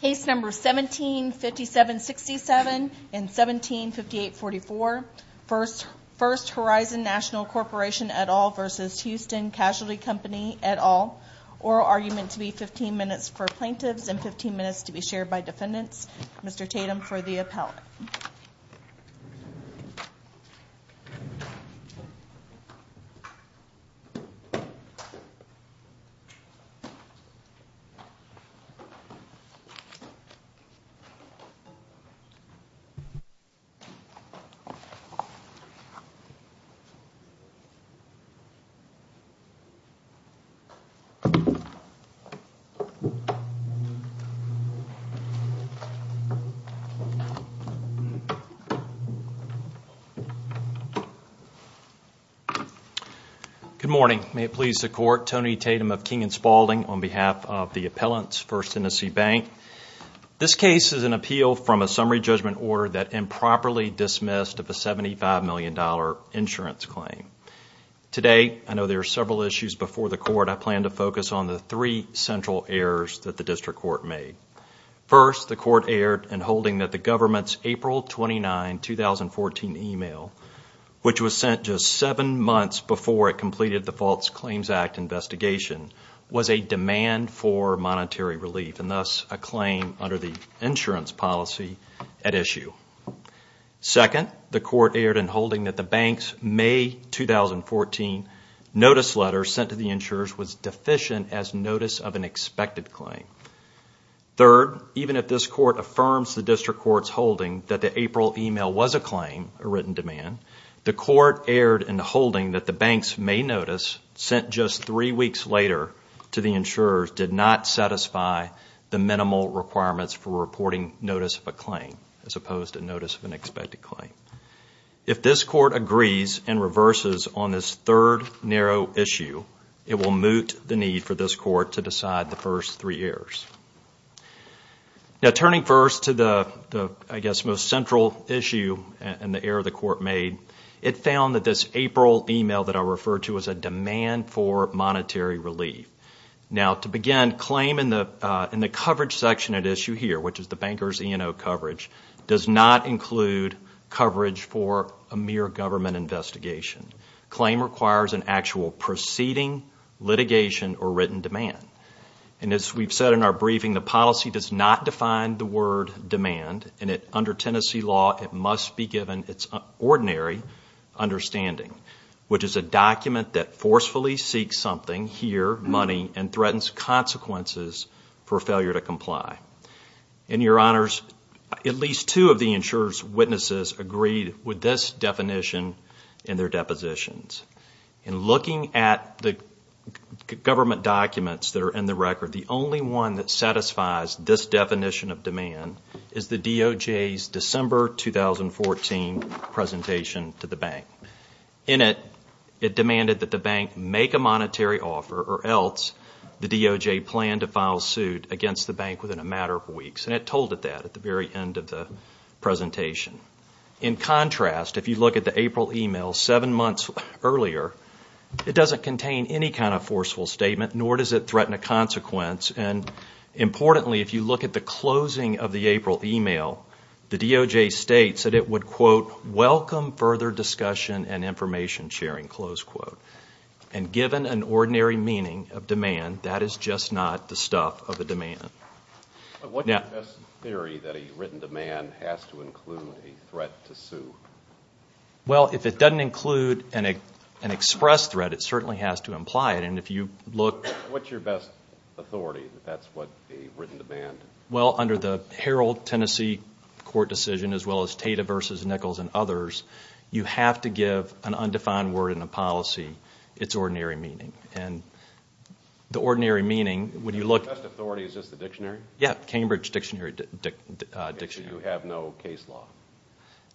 Case No. 17-57-67 and 17-58-44 First Horizon National Corporation et al. v. Houston Casualty Company et al. Oral argument to be 15 minutes for plaintiffs and 15 minutes to be shared by defendants. Mr. Tatum for the appellate. Good morning, may it please the court. I'm attorney Tatum of King & Spaulding on behalf of the appellant's First Hennessy Bank. This case is an appeal from a summary judgment order that improperly dismissed of a $75 million insurance claim. Today, I know there are several issues before the court. I plan to focus on the three central errors that the district court made. First, the court erred in holding that the government's April 29, 2014 email, which was sent just seven months before it completed the False Claims Act investigation, was a demand for monetary relief and thus a claim under the insurance policy at issue. Second, the court erred in holding that the bank's May 2014 notice letter sent to the insurers was deficient as notice of an expected claim. Third, even if this court affirms the district court's holding that the April email was a claim, a written demand, the court erred in holding that the bank's May notice sent just three weeks later to the insurers did not satisfy the minimal requirements for reporting notice of a claim as opposed to notice of an expected claim. If this court agrees and reverses on this third narrow issue, it will moot the need for this court to decide the first three errors. Now, turning first to the, I guess, most central issue and the error the court made, it found that this April email that I referred to was a demand for monetary relief. Now, to begin, claim in the coverage section at issue here, which is the banker's E&O coverage, does not include coverage for a mere government investigation. Claim requires an actual proceeding, litigation, or written demand. And as we've said in our briefing, the policy does not define the word demand, and under Tennessee law it must be given its ordinary understanding, which is a document that forcefully seeks something, here money, and threatens consequences for failure to comply. In your honors, at least two of the insurer's witnesses agreed with this definition in their depositions. In looking at the government documents that are in the record, the only one that satisfies this definition of demand is the DOJ's December 2014 presentation to the bank. In it, it demanded that the bank make a monetary offer or else the DOJ plan to file suit against the bank within a matter of weeks. And it told it that at the very end of the presentation. In contrast, if you look at the April email seven months earlier, it doesn't contain any kind of forceful statement, nor does it threaten a consequence. And importantly, if you look at the closing of the April email, the DOJ states that it would, quote, welcome further discussion and information sharing, close quote. And given an ordinary meaning of demand, that is just not the stuff of a demand. What's your best theory that a written demand has to include a threat to sue? Well, if it doesn't include an express threat, it certainly has to imply it. And if you look... What's your best authority that that's what a written demand... Well, under the Herald Tennessee court decision, as well as Tata v. Nichols and others, you have to give an undefined word in a policy its ordinary meaning. And the ordinary meaning, when you look... The best authority is just the dictionary? Yeah, Cambridge dictionary. So you have no case law?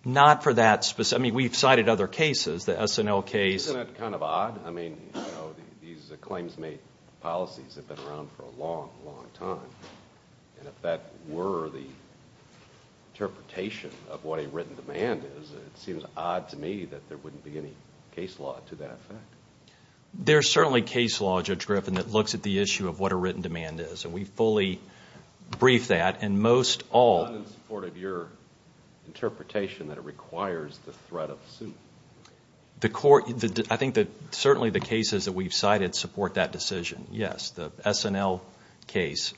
Not for that specific. I mean, we've cited other cases. The SNL case. Isn't that kind of odd? I mean, these claims made policies have been around for a long, long time. And if that were the interpretation of what a written demand is, it seems odd to me that there wouldn't be any case law to that effect. There's certainly case law, Judge Griffin, that looks at the issue of what a written demand is. And we fully brief that. And most all... It's not in support of your interpretation that it requires the threat of a suit. I think that certainly the cases that we've cited support that decision. Yes, the SNL case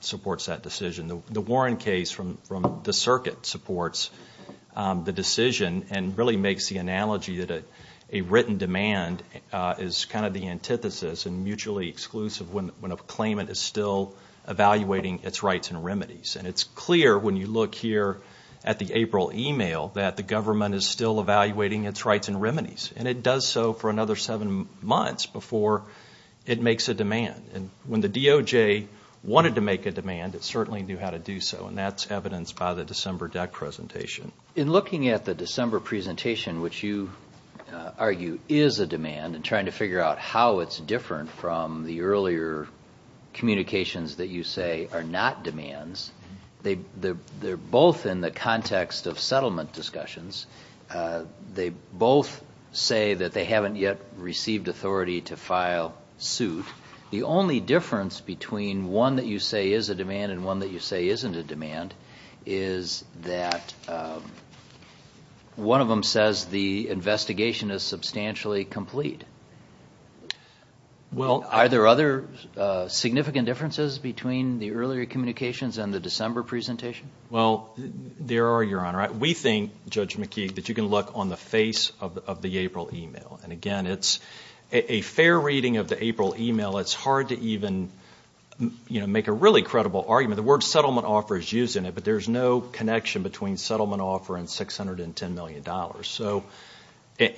supports that decision. The Warren case from the circuit supports the decision and really makes the analogy that a written demand is kind of the antithesis and mutually exclusive when a claimant is still evaluating its rights and remedies. And it's clear when you look here at the April email that the government is still evaluating its rights and remedies. And it does so for another seven months before it makes a demand. And when the DOJ wanted to make a demand, it certainly knew how to do so. And that's evidenced by the December deck presentation. In looking at the December presentation, which you argue is a demand, and trying to figure out how it's different from the earlier communications that you say are not demands, they're both in the context of settlement discussions. They both say that they haven't yet received authority to file suit. The only difference between one that you say is a demand and one that you say isn't a demand is that one of them says the investigation is substantially complete. Are there other significant differences between the earlier communications and the December presentation? Well, there are, Your Honor. We think, Judge McKeague, that you can look on the face of the April email. And, again, it's a fair reading of the April email. It's hard to even make a really credible argument. The word settlement offer is used in it, but there's no connection between settlement offer and $610 million.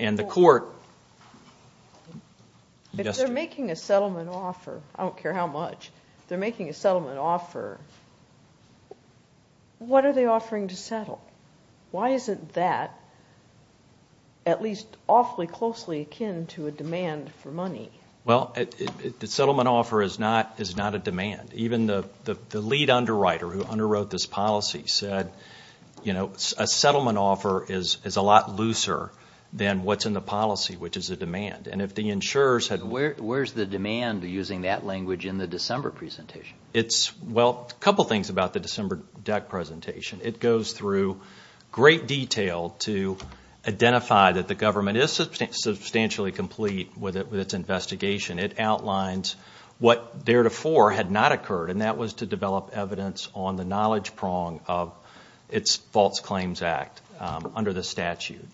And the court— If they're making a settlement offer, I don't care how much, if they're making a settlement offer, what are they offering to settle? Why isn't that at least awfully closely akin to a demand for money? Well, the settlement offer is not a demand. Even the lead underwriter who underwrote this policy said, you know, a settlement offer is a lot looser than what's in the policy, which is a demand. Where's the demand, using that language, in the December presentation? Well, a couple things about the December DEC presentation. It goes through great detail to identify that the government is substantially complete with its investigation. It outlines what, theretofore, had not occurred, and that was to develop evidence on the knowledge prong of its False Claims Act under the statute.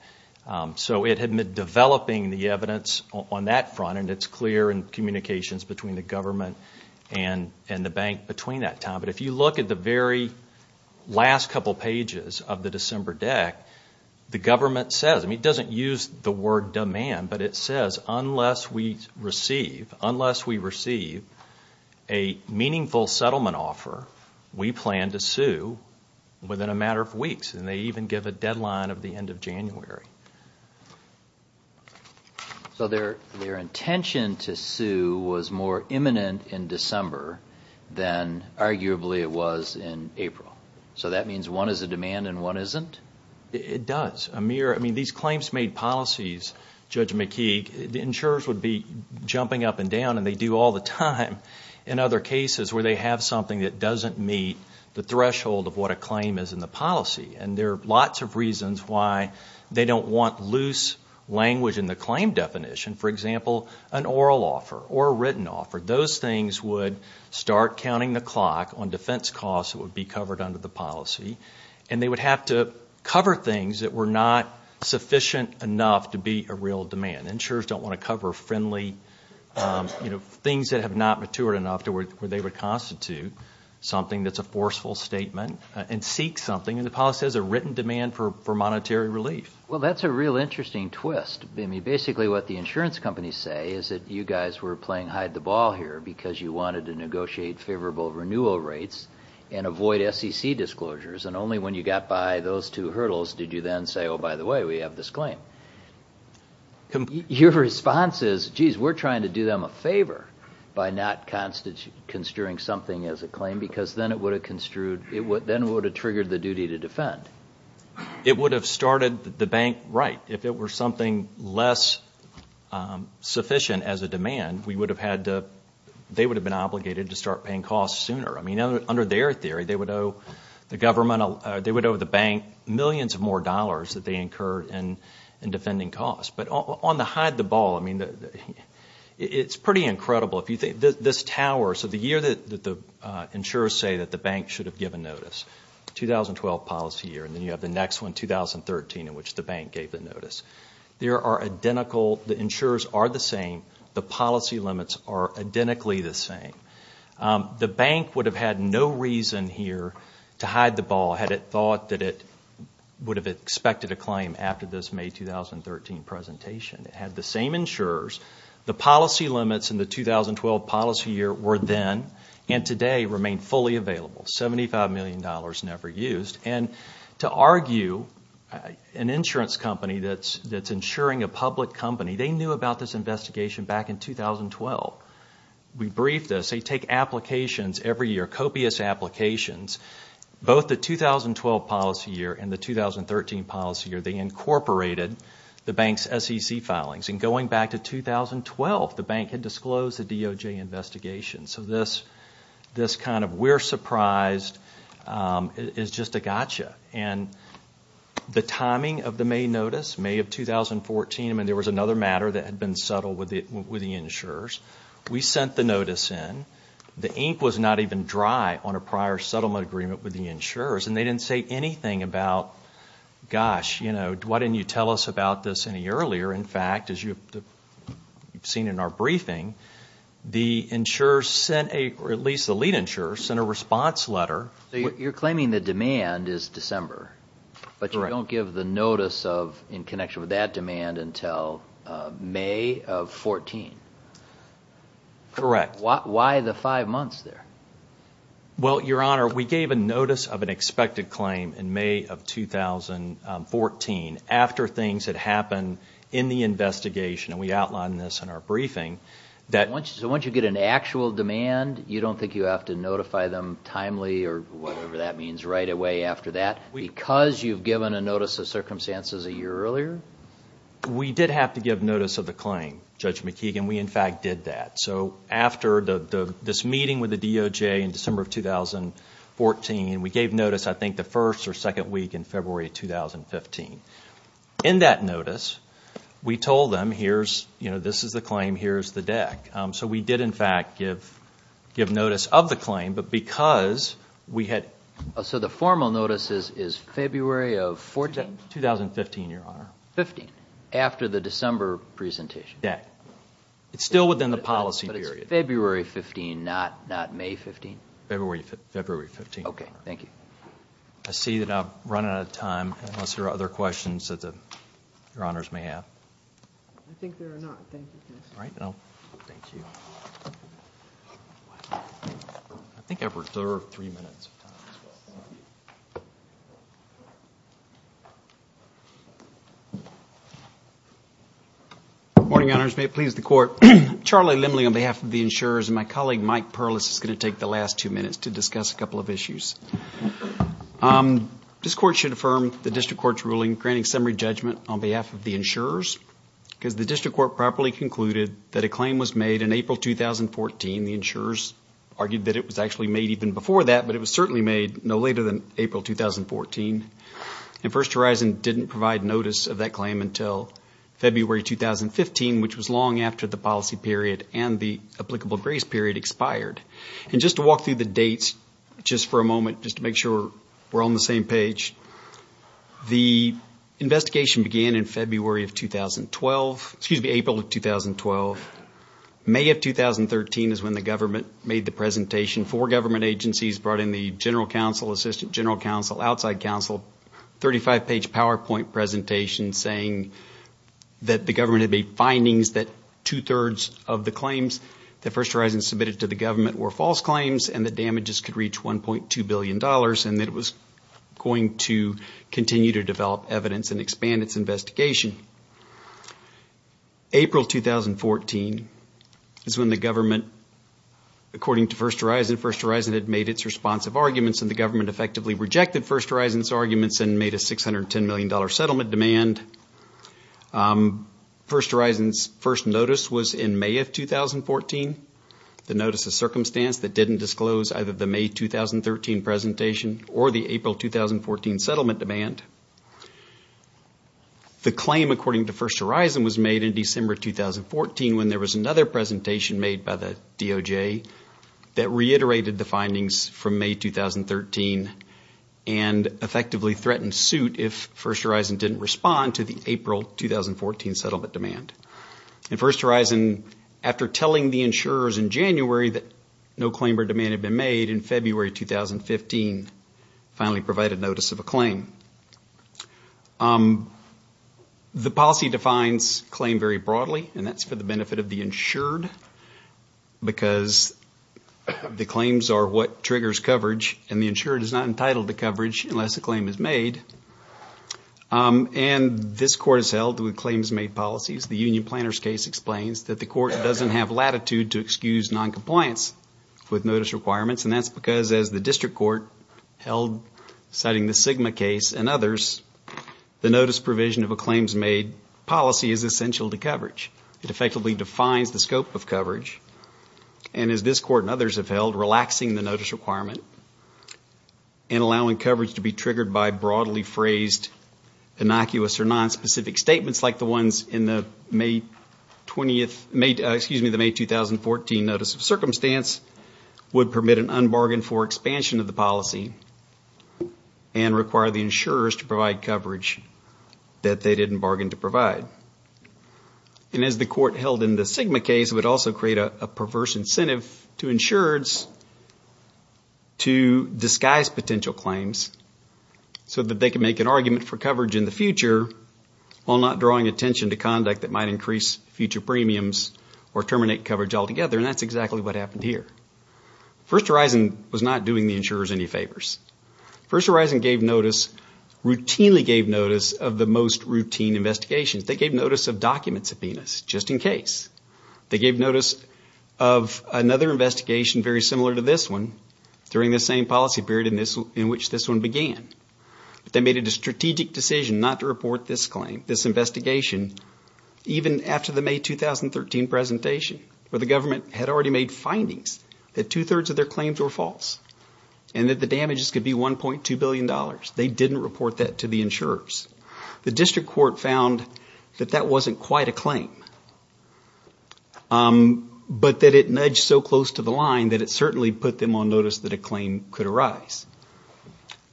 So it had been developing the evidence on that front, and it's clear in communications between the government and the bank between that time. But if you look at the very last couple pages of the December DEC, the government says— I mean, it doesn't use the word demand, but it says, unless we receive a meaningful settlement offer, we plan to sue within a matter of weeks. And they even give a deadline of the end of January. So their intention to sue was more imminent in December than, arguably, it was in April. So that means one is a demand and one isn't? It does. Amir, I mean, these claims made policies, Judge McKeague, insurers would be jumping up and down, and they do all the time, in other cases where they have something that doesn't meet the threshold of what a claim is in the policy. And there are lots of reasons why they don't want loose language in the claim definition. For example, an oral offer or a written offer, those things would start counting the clock on defense costs that would be covered under the policy, and they would have to cover things that were not sufficient enough to be a real demand. Insurers don't want to cover friendly, you know, things that have not matured enough where they would constitute something that's a forceful statement and seek something. And the policy has a written demand for monetary relief. Well, that's a real interesting twist. I mean, basically what the insurance companies say is that you guys were playing hide-the-ball here because you wanted to negotiate favorable renewal rates and avoid SEC disclosures, and only when you got by those two hurdles did you then say, oh, by the way, we have this claim. Your response is, geez, we're trying to do them a favor by not construing something as a claim because then it would have triggered the duty to defend. It would have started the bank right. If it were something less sufficient as a demand, they would have been obligated to start paying costs sooner. I mean, under their theory, they would owe the government, they would owe the bank millions of more dollars that they incurred in defending costs. But on the hide-the-ball, I mean, it's pretty incredible. If you think this tower, so the year that the insurers say that the bank should have given notice, 2012 policy year, and then you have the next one, 2013, in which the bank gave the notice, there are identical, the insurers are the same, the policy limits are identically the same. The bank would have had no reason here to hide the ball had it thought that it would have expected a claim after this May 2013 presentation. It had the same insurers. The policy limits in the 2012 policy year were then and today remain fully available, $75 million never used. And to argue an insurance company that's insuring a public company, they knew about this investigation back in 2012. We briefed this. They take applications every year, copious applications. Both the 2012 policy year and the 2013 policy year, they incorporated the bank's SEC filings. And going back to 2012, the bank had disclosed the DOJ investigation. So this kind of we're surprised is just a gotcha. And the timing of the May notice, May of 2014, I mean, there was another matter that had been settled with the insurers. We sent the notice in. The ink was not even dry on a prior settlement agreement with the insurers, and they didn't say anything about, gosh, why didn't you tell us about this any earlier? In fact, as you've seen in our briefing, the insurers sent a, or at least the lead insurers, sent a response letter. So you're claiming the demand is December, but you don't give the notice in connection with that demand until May of 2014. Correct. Why the five months there? Well, Your Honor, we gave a notice of an expected claim in May of 2014 after things had happened in the investigation, and we outlined this in our briefing. So once you get an actual demand, you don't think you have to notify them timely or whatever that means right away after that, because you've given a notice of circumstances a year earlier? We did have to give notice of the claim, Judge McKeegan. We, in fact, did that. So after this meeting with the DOJ in December of 2014, we gave notice, I think, the first or second week in February of 2015. In that notice, we told them, you know, this is the claim, here's the deck. So we did, in fact, give notice of the claim, but because we had... So the formal notice is February of 14th? 2015, Your Honor. 15th, after the December presentation? Deck. It's still within the policy period. But it's February 15th, not May 15th? February 15th, Your Honor. Okay, thank you. I see that I'm running out of time, unless there are other questions that Your Honors may have. I think there are not. Thank you. Thank you. I think I've reserved three minutes of time as well. Good morning, Your Honors. May it please the Court. Charlie Limley on behalf of the insurers and my colleague Mike Perlis is going to take the last two minutes to discuss a couple of issues. This Court should affirm the District Court's ruling granting summary judgment on behalf of the insurers because the District Court properly concluded that a claim was made in April 2014. The insurers argued that it was actually made even before that, but it was certainly made no later than April 2014. And First Horizon didn't provide notice of that claim until February 2015, which was long after the policy period and the applicable grace period expired. And just to walk through the dates just for a moment, just to make sure we're on the same page, the investigation began in April of 2012. May of 2013 is when the government made the presentation. Four government agencies brought in the General Counsel, Assistant General Counsel, Outside Counsel, 35-page PowerPoint presentation saying that the government had made findings that two-thirds of the claims that First Horizon submitted to the government were false claims and the damages could reach $1.2 billion and that it was going to continue to develop evidence and expand its investigation. April 2014 is when the government, according to First Horizon, First Horizon had made its responsive arguments and the government effectively rejected First Horizon's arguments and made a $610 million settlement demand. First Horizon's first notice was in May of 2014, the notice of circumstance that didn't disclose either the May 2013 presentation or the April 2014 settlement demand. The claim, according to First Horizon, was made in December 2014 when there was another presentation made by the DOJ that reiterated the findings from May 2013 and effectively threatened suit if First Horizon didn't respond to the April 2014 settlement demand. And First Horizon, after telling the insurers in January that no claim or demand had been made, in February 2015 finally provided notice of a claim. The policy defines claim very broadly and that's for the benefit of the insured because the claims are what triggers coverage and the insured is not entitled to coverage unless a claim is made. And this court is held with claims made policies. The union planner's case explains that the court doesn't have latitude to excuse noncompliance with notice requirements and that's because as the district court held, citing the Sigma case and others, the notice provision of a claims made policy is essential to coverage. It effectively defines the scope of coverage. And as this court and others have held, relaxing the notice requirement and allowing coverage to be triggered by broadly phrased innocuous or nonspecific statements like the ones in the May 2014 notice of circumstance would permit an unbargained for expansion of the policy and require the insurers to provide coverage that they didn't bargain to provide. And as the court held in the Sigma case, it would also create a perverse incentive to insurers to disguise potential claims so that they can make an argument for coverage in the future while not drawing attention to conduct that might increase future premiums or terminate coverage altogether, and that's exactly what happened here. First Horizon was not doing the insurers any favors. First Horizon gave notice, routinely gave notice of the most routine investigations. They gave notice of document subpoenas just in case. They gave notice of another investigation very similar to this one during the same policy period in which this one began. They made a strategic decision not to report this claim, this investigation, even after the May 2013 presentation where the government had already made findings that two-thirds of their claims were false and that the damages could be $1.2 billion. They didn't report that to the insurers. The district court found that that wasn't quite a claim, but that it nudged so close to the line that it certainly put them on notice that a claim could arise.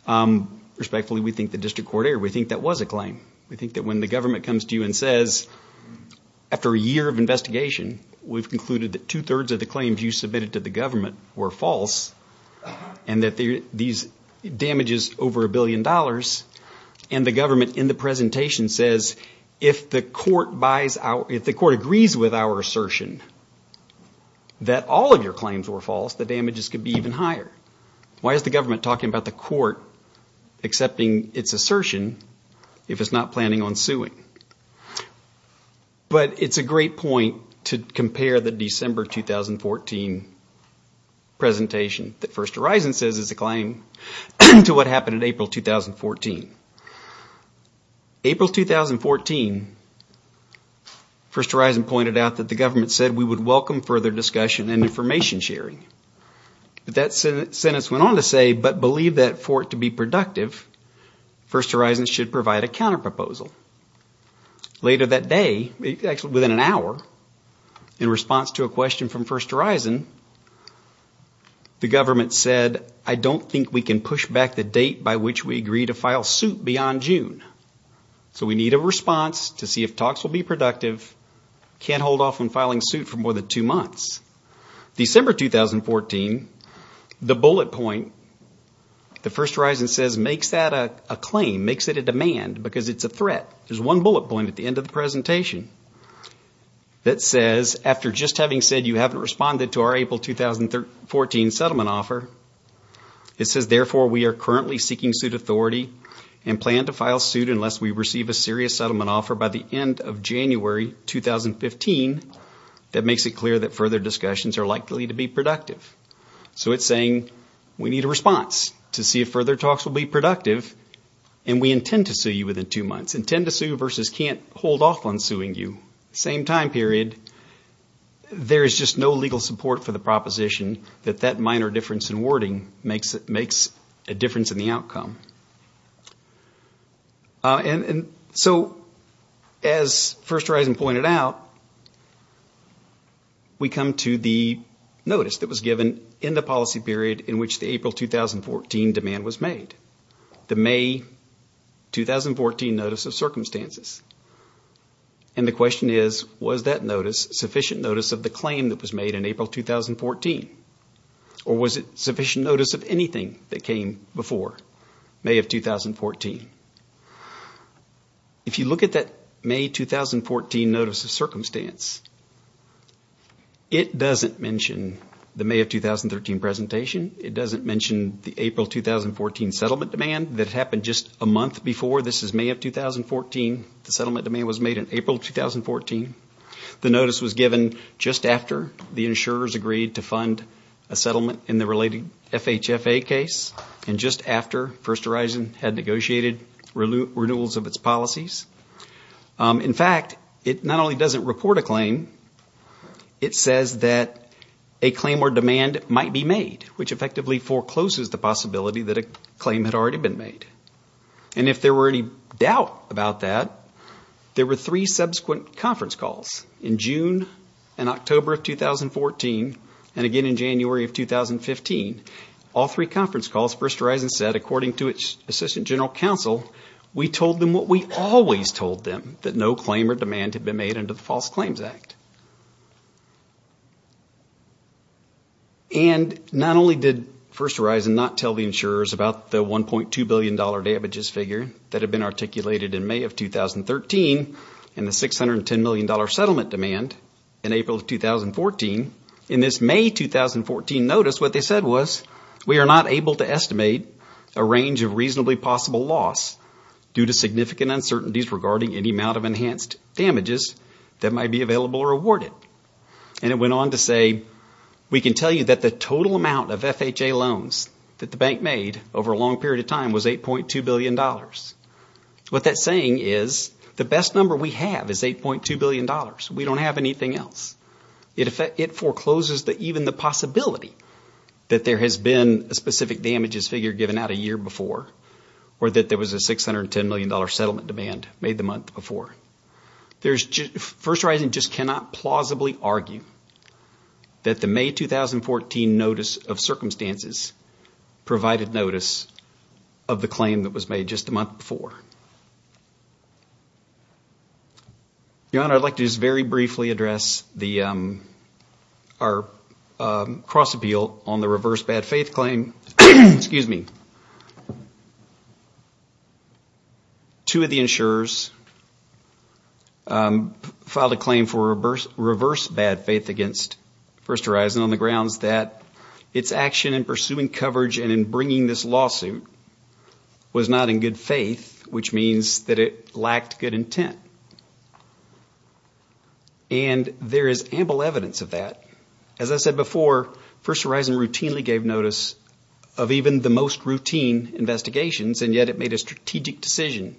Respectfully, we think the district court erred. We think that was a claim. We think that when the government comes to you and says, after a year of investigation, we've concluded that two-thirds of the claims you submitted to the government were false and that these damages over $1 billion, and the government in the presentation says, if the court agrees with our assertion that all of your claims were false, the damages could be even higher. Why is the government talking about the court accepting its assertion if it's not planning on suing? But it's a great point to compare the December 2014 presentation that First Horizon says is a claim to what happened in April 2014. April 2014, First Horizon pointed out that the government said we would welcome further discussion and information sharing. That sentence went on to say, but believe that for it to be productive, First Horizon should provide a counterproposal. Later that day, actually within an hour, in response to a question from First Horizon, the government said, I don't think we can push back the date by which we agree to file suit beyond June. So we need a response to see if talks will be productive. Can't hold off on filing suit for more than two months. December 2014, the bullet point, First Horizon says makes that a claim, makes it a demand, because it's a threat. There's one bullet point at the end of the presentation that says, after just having said you haven't responded to our April 2014 settlement offer, it says therefore we are currently seeking suit authority and plan to file suit unless we receive a serious settlement offer by the end of January 2015 that makes it clear that further discussions are likely to be productive. So it's saying we need a response to see if further talks will be productive, and we intend to sue you within two months. Intend to sue versus can't hold off on suing you. Same time period. There is just no legal support for the proposition that that minor difference in wording makes a difference in the outcome. So as First Horizon pointed out, we come to the notice that was given in the policy period in which the April 2014 demand was made. The May 2014 notice of circumstances. And the question is, was that notice sufficient notice of the claim that was made in April 2014? Or was it sufficient notice of anything that came before? May of 2014. If you look at that May 2014 notice of circumstance, it doesn't mention the May of 2013 presentation. It doesn't mention the April 2014 settlement demand that happened just a month before. This is May of 2014. The settlement demand was made in April 2014. The notice was given just after the insurers agreed to fund a settlement in the related FHFA case, and just after First Horizon had negotiated renewals of its policies. In fact, it not only doesn't report a claim, it says that a claim or demand might be made, which effectively forecloses the possibility that a claim had already been made. And if there were any doubt about that, there were three subsequent conference calls in June and October of 2014, and again in January of 2015. All three conference calls, First Horizon said, according to its Assistant General Counsel, we told them what we always told them, that no claim or demand had been made under the False Claims Act. And not only did First Horizon not tell the insurers about the $1.2 billion damages figure that had been articulated in May of 2013 and the $610 million settlement demand in April of 2014, in this May 2014 notice, what they said was, we are not able to estimate a range of reasonably possible loss due to significant uncertainties regarding any amount of enhanced damages that might be available or awarded. And it went on to say, we can tell you that the total amount of FHA loans that the bank made over a long period of time was $8.2 billion. What that's saying is, the best number we have is $8.2 billion. We don't have anything else. It forecloses even the possibility that there has been a specific damages figure given out a year before or that there was a $610 million settlement demand made the month before. First Horizon just cannot plausibly argue that the May 2014 notice of circumstances provided notice of the claim that was made just a month before. Your Honor, I'd like to just very briefly address our cross-appeal on the reverse bad faith claim. Excuse me. Two of the insurers filed a claim for reverse bad faith against First Horizon on the grounds that its action in pursuing coverage and in bringing this lawsuit was not in good faith, which means that it lacked good intent. And there is ample evidence of that. As I said before, First Horizon routinely gave notice of even the most routine investigations, and yet it made a strategic decision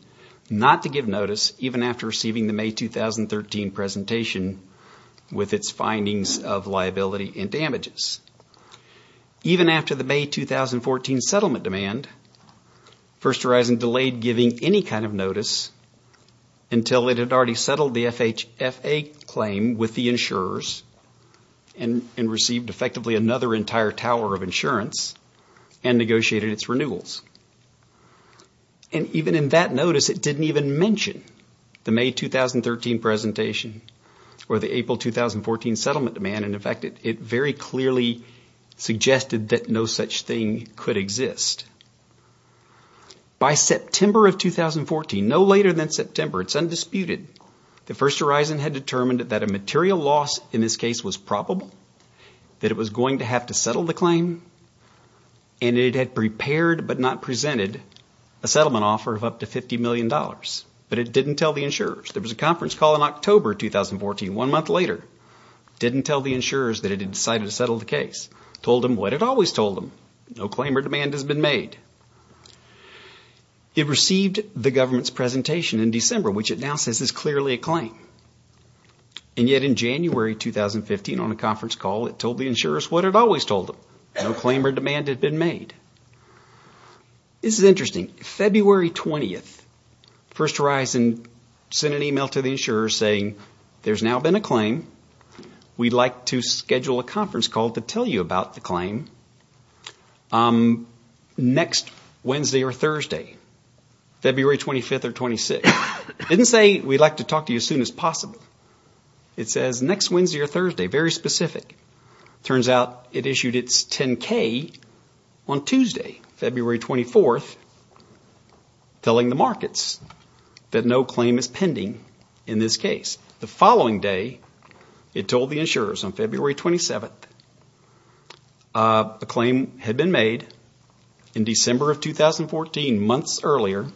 not to give notice even after receiving the May 2013 presentation with its findings of liability and damages. Even after the May 2014 settlement demand, First Horizon delayed giving any kind of notice until it had already settled the FHA claim with the insurers and received effectively another entire tower of insurance and negotiated its renewals. And even in that notice, it didn't even mention the May 2013 presentation or the April 2014 settlement demand. In fact, it very clearly suggested that no such thing could exist. By September of 2014, no later than September, it's undisputed, that First Horizon had determined that a material loss in this case was probable, that it was going to have to settle the claim, and it had prepared but not presented a settlement offer of up to $50 million. There was a conference call in October 2014, one month later. It didn't tell the insurers that it had decided to settle the case. It told them what it always told them. No claim or demand has been made. It received the government's presentation in December, which it now says is clearly a claim. And yet in January 2015 on a conference call, it told the insurers what it always told them. No claim or demand had been made. This is interesting. February 20th, First Horizon sent an email to the insurers saying there's now been a claim. We'd like to schedule a conference call to tell you about the claim next Wednesday or Thursday, February 25th or 26th. It didn't say we'd like to talk to you as soon as possible. It says next Wednesday or Thursday, very specific. It turns out it issued its 10-K on Tuesday, February 24th, telling the markets that no claim is pending in this case. The following day, it told the insurers on February 27th, a claim had been made in December of 2014, months earlier,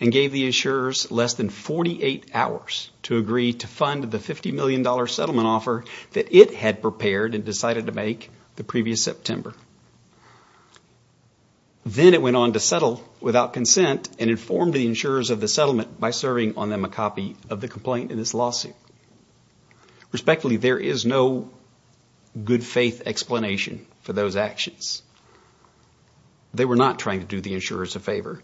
and gave the insurers less than 48 hours to agree to fund the $50 million settlement offer that it had prepared and decided to make the previous September. Then it went on to settle without consent and informed the insurers of the settlement by serving on them a copy of the complaint in this lawsuit. Respectfully, there is no good faith explanation for those actions. They were not trying to do the insurers a favor.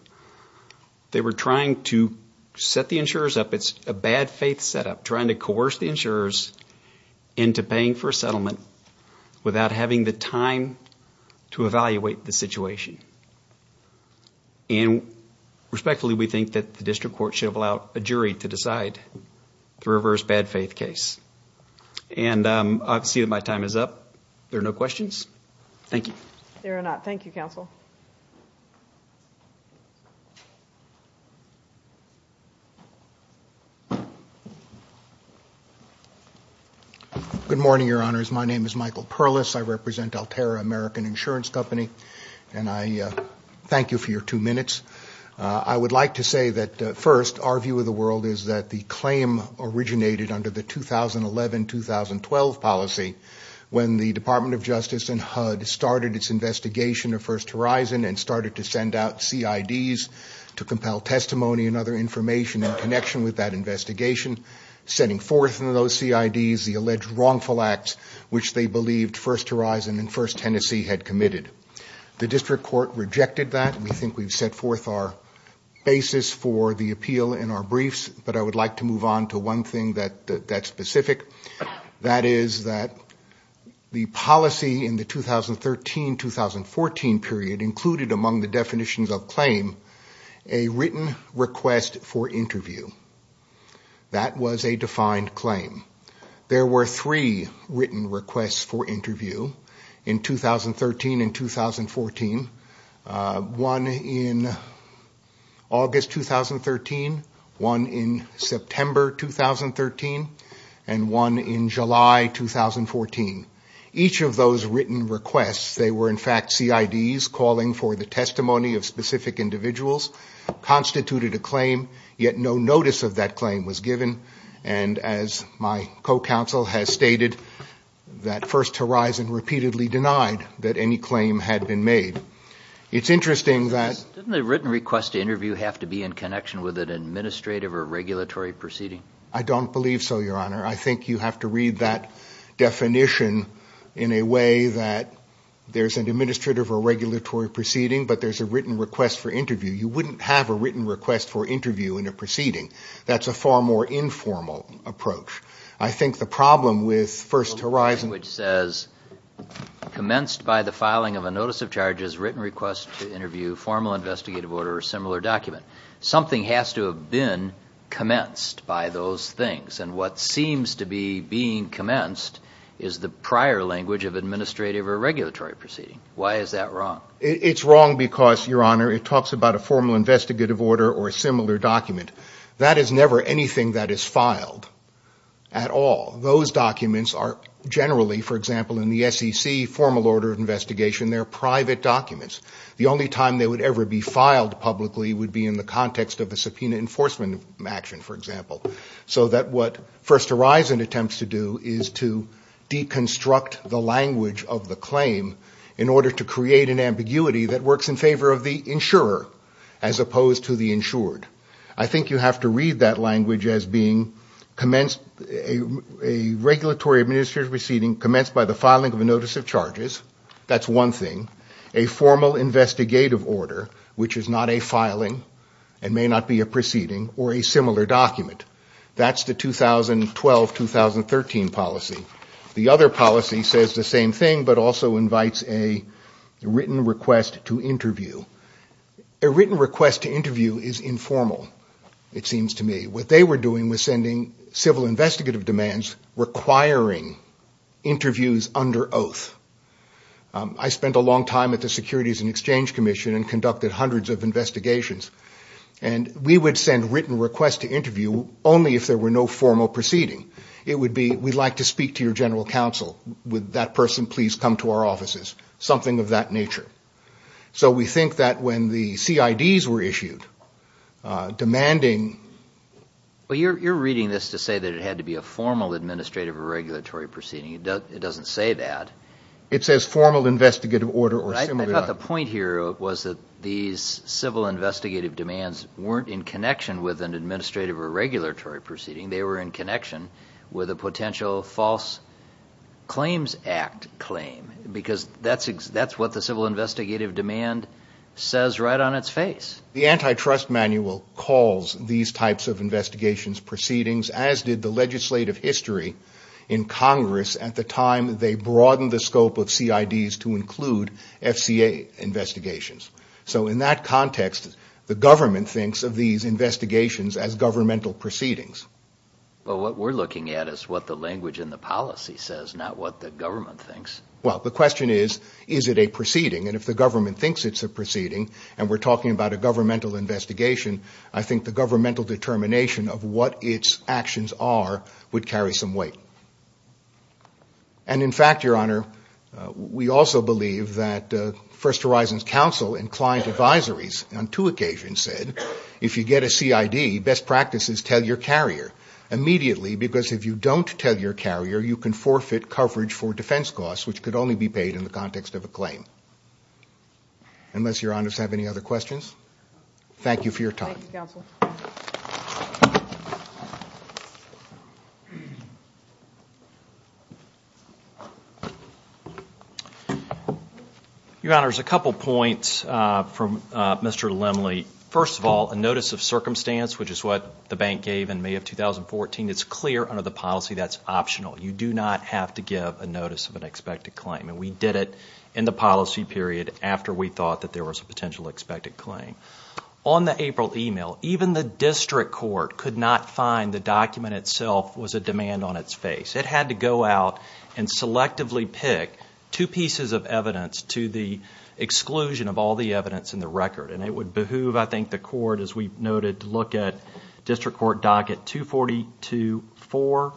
They were trying to set the insurers up. It's a bad faith setup, trying to coerce the insurers into paying for a settlement without having the time to evaluate the situation. And respectfully, we think that the district court should have allowed a jury to decide the reverse bad faith case. And I see that my time is up. There are no questions? Thank you. There are not. Thank you, Counsel. Good morning, Your Honors. My name is Michael Perlis. I represent Altera American Insurance Company, and I thank you for your two minutes. I would like to say that, first, our view of the world is that the claim originated under the 2011-2012 policy when the Department of Justice and HUD started its investigation of First Horizon and started to send out CIDs to compel testimony and other information in connection with that investigation, setting forth in those CIDs the alleged wrongful acts which they believed First Horizon and First Tennessee had committed. The district court rejected that. We think we've set forth our basis for the appeal in our briefs, but I would like to move on to one thing that's specific. That is that the policy in the 2013-2014 period included among the definitions of claim a written request for interview. That was a defined claim. There were three written requests for interview in 2013 and 2014, one in August 2013, one in September 2013, and one in July 2014. Each of those written requests, they were in fact CIDs calling for the testimony of specific individuals, constituted a claim, yet no notice of that claim was given, and as my co-counsel has stated, that First Horizon repeatedly denied that any claim had been made. It's interesting that... Didn't a written request to interview have to be in connection with an administrative or regulatory proceeding? I don't believe so, Your Honor. I think you have to read that definition in a way that there's an administrative or regulatory proceeding, but there's a written request for interview. You wouldn't have a written request for interview in a proceeding. That's a far more informal approach. I think the problem with First Horizon... Which says, commenced by the filing of a notice of charges, written request to interview, formal investigative order, or similar document. Something has to have been commenced by those things, and what seems to be being commenced is the prior language of administrative or regulatory proceeding. Why is that wrong? It's wrong because, Your Honor, it talks about a formal investigative order or a similar document. That is never anything that is filed at all. Those documents are generally, for example, in the SEC formal order of investigation, they're private documents. The only time they would ever be filed publicly would be in the context of a subpoena enforcement action, for example. So that what First Horizon attempts to do is to deconstruct the language of the claim in order to create an ambiguity that works in favor of the insurer as opposed to the insured. I think you have to read that language as being a regulatory administrative proceeding commenced by the filing of a notice of charges. That's one thing. A formal investigative order, which is not a filing and may not be a proceeding or a similar document. That's the 2012-2013 policy. The other policy says the same thing but also invites a written request to interview. A written request to interview is informal, it seems to me. What they were doing was sending civil investigative demands requiring interviews under oath. I spent a long time at the Securities and Exchange Commission and conducted hundreds of investigations. We would send written requests to interview only if there were no formal proceeding. It would be, we'd like to speak to your general counsel. Would that person please come to our offices? Something of that nature. We think that when the CIDs were issued, demanding... You're reading this to say that it had to be a formal administrative or regulatory proceeding. It doesn't say that. It says formal investigative order or similar. I thought the point here was that these civil investigative demands weren't in connection with an administrative or regulatory proceeding. They were in connection with a potential false claims act claim because that's what the civil investigative demand says right on its face. The antitrust manual calls these types of investigations proceedings as did the legislative history in Congress at the time they broadened the scope of CIDs to include FCA investigations. In that context, the government thinks of these investigations as governmental proceedings. What we're looking at is what the language in the policy says, not what the government thinks. The question is, is it a proceeding? If the government thinks it's a proceeding and we're talking about a governmental investigation, I think the governmental determination of what its actions are would carry some weight. In fact, Your Honor, we also believe that First Horizons Counsel and client advisories on two occasions said, if you get a CID, best practice is tell your carrier immediately because if you don't tell your carrier, you can forfeit coverage for defense costs, which could only be paid in the context of a claim. Unless Your Honor has any other questions, thank you for your time. Thank you, Counsel. Your Honor, there's a couple points from Mr. Lemley. First of all, a notice of circumstance, which is what the bank gave in May of 2014, is clear under the policy that's optional. You do not have to give a notice of an expected claim. We did it in the policy period after we thought that there was a potential expected claim. On the April email, even the district court could not find the document itself was a demand on its face. It had to go out and selectively pick two pieces of evidence to the exclusion of all the evidence in the record. It would behoove, I think, the court, as we noted, to look at district court docket 242-4,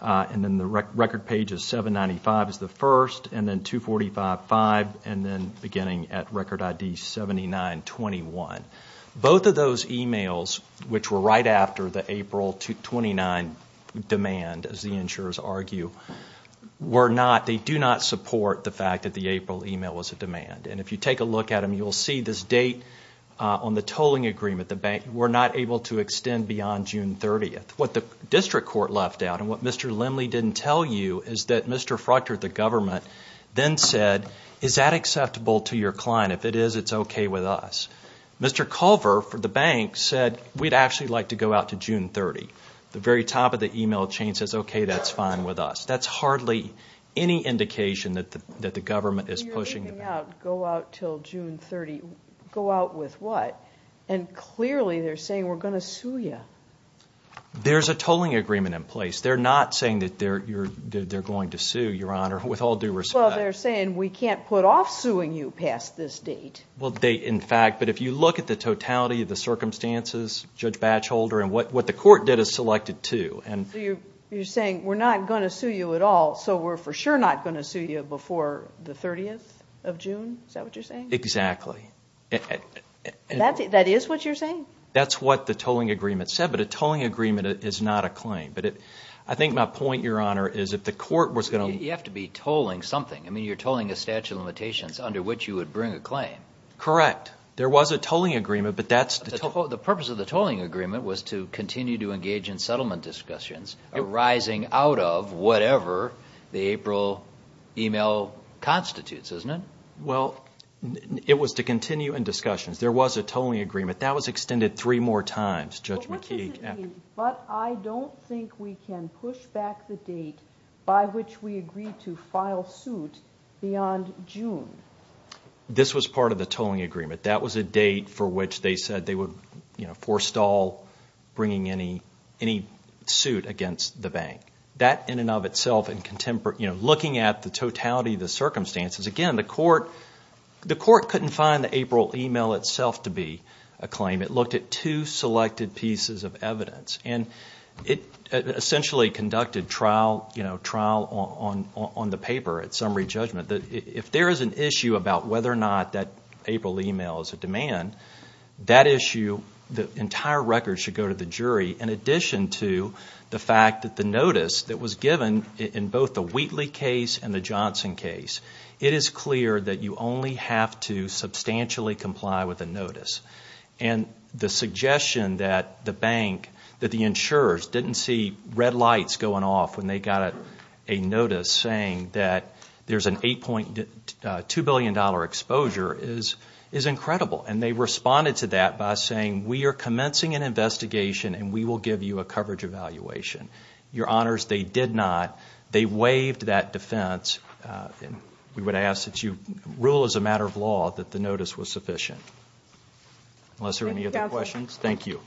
and then the record page of 795 is the first, and then 245-5, and then beginning at record ID 79-21. Both of those emails, which were right after the April 29 demand, as the insurers argue, do not support the fact that the April email was a demand. And if you take a look at them, you'll see this date on the tolling agreement. The bank were not able to extend beyond June 30th. What the district court left out, and what Mr. Lemley didn't tell you, is that Mr. Fruchter, the government, then said, is that acceptable to your client? If it is, it's okay with us. Mr. Culver, for the bank, said, we'd actually like to go out to June 30th. The very top of the email chain says, okay, that's fine with us. That's hardly any indication that the government is pushing. Going out, go out till June 30th, go out with what? And clearly they're saying, we're going to sue you. There's a tolling agreement in place. They're not saying that they're going to sue, Your Honor, with all due respect. Well, they're saying, we can't put off suing you past this date. Well, they, in fact, but if you look at the totality of the circumstances, Judge Batcholder, and what the court did is selected two. So you're saying, we're not going to sue you at all, so we're for sure not going to sue you before the 30th of June? Is that what you're saying? Exactly. That is what you're saying? That's what the tolling agreement said, but a tolling agreement is not a claim. But I think my point, Your Honor, is if the court was going to You have to be tolling something. I mean, you're tolling a statute of limitations under which you would bring a claim. Correct. There was a tolling agreement, but that's The purpose of the tolling agreement was to continue to engage in settlement discussions, arising out of whatever the April email constitutes, isn't it? Well, it was to continue in discussions. There was a tolling agreement. That was extended three more times, Judge McKeague. But I don't think we can push back the date by which we agreed to file suit beyond June. This was part of the tolling agreement. That was a date for which they said they would forestall bringing any suit against the bank. That in and of itself, looking at the totality of the circumstances, again, the court couldn't find the April email itself to be a claim. It looked at two selected pieces of evidence, and it essentially conducted trial on the paper at summary judgment. If there is an issue about whether or not that April email is a demand, that issue, the entire record should go to the jury in addition to the fact that the notice that was given in both the Wheatley case and the Johnson case, it is clear that you only have to substantially comply with the notice. And the suggestion that the bank, that the insurers didn't see red lights going off when they got a notice saying that there's an $8.2 billion exposure is incredible. And they responded to that by saying we are commencing an investigation and we will give you a coverage evaluation. Your Honors, they did not. They waived that defense. We would ask that you rule as a matter of law that the notice was sufficient. Unless there are any other questions. Thank you.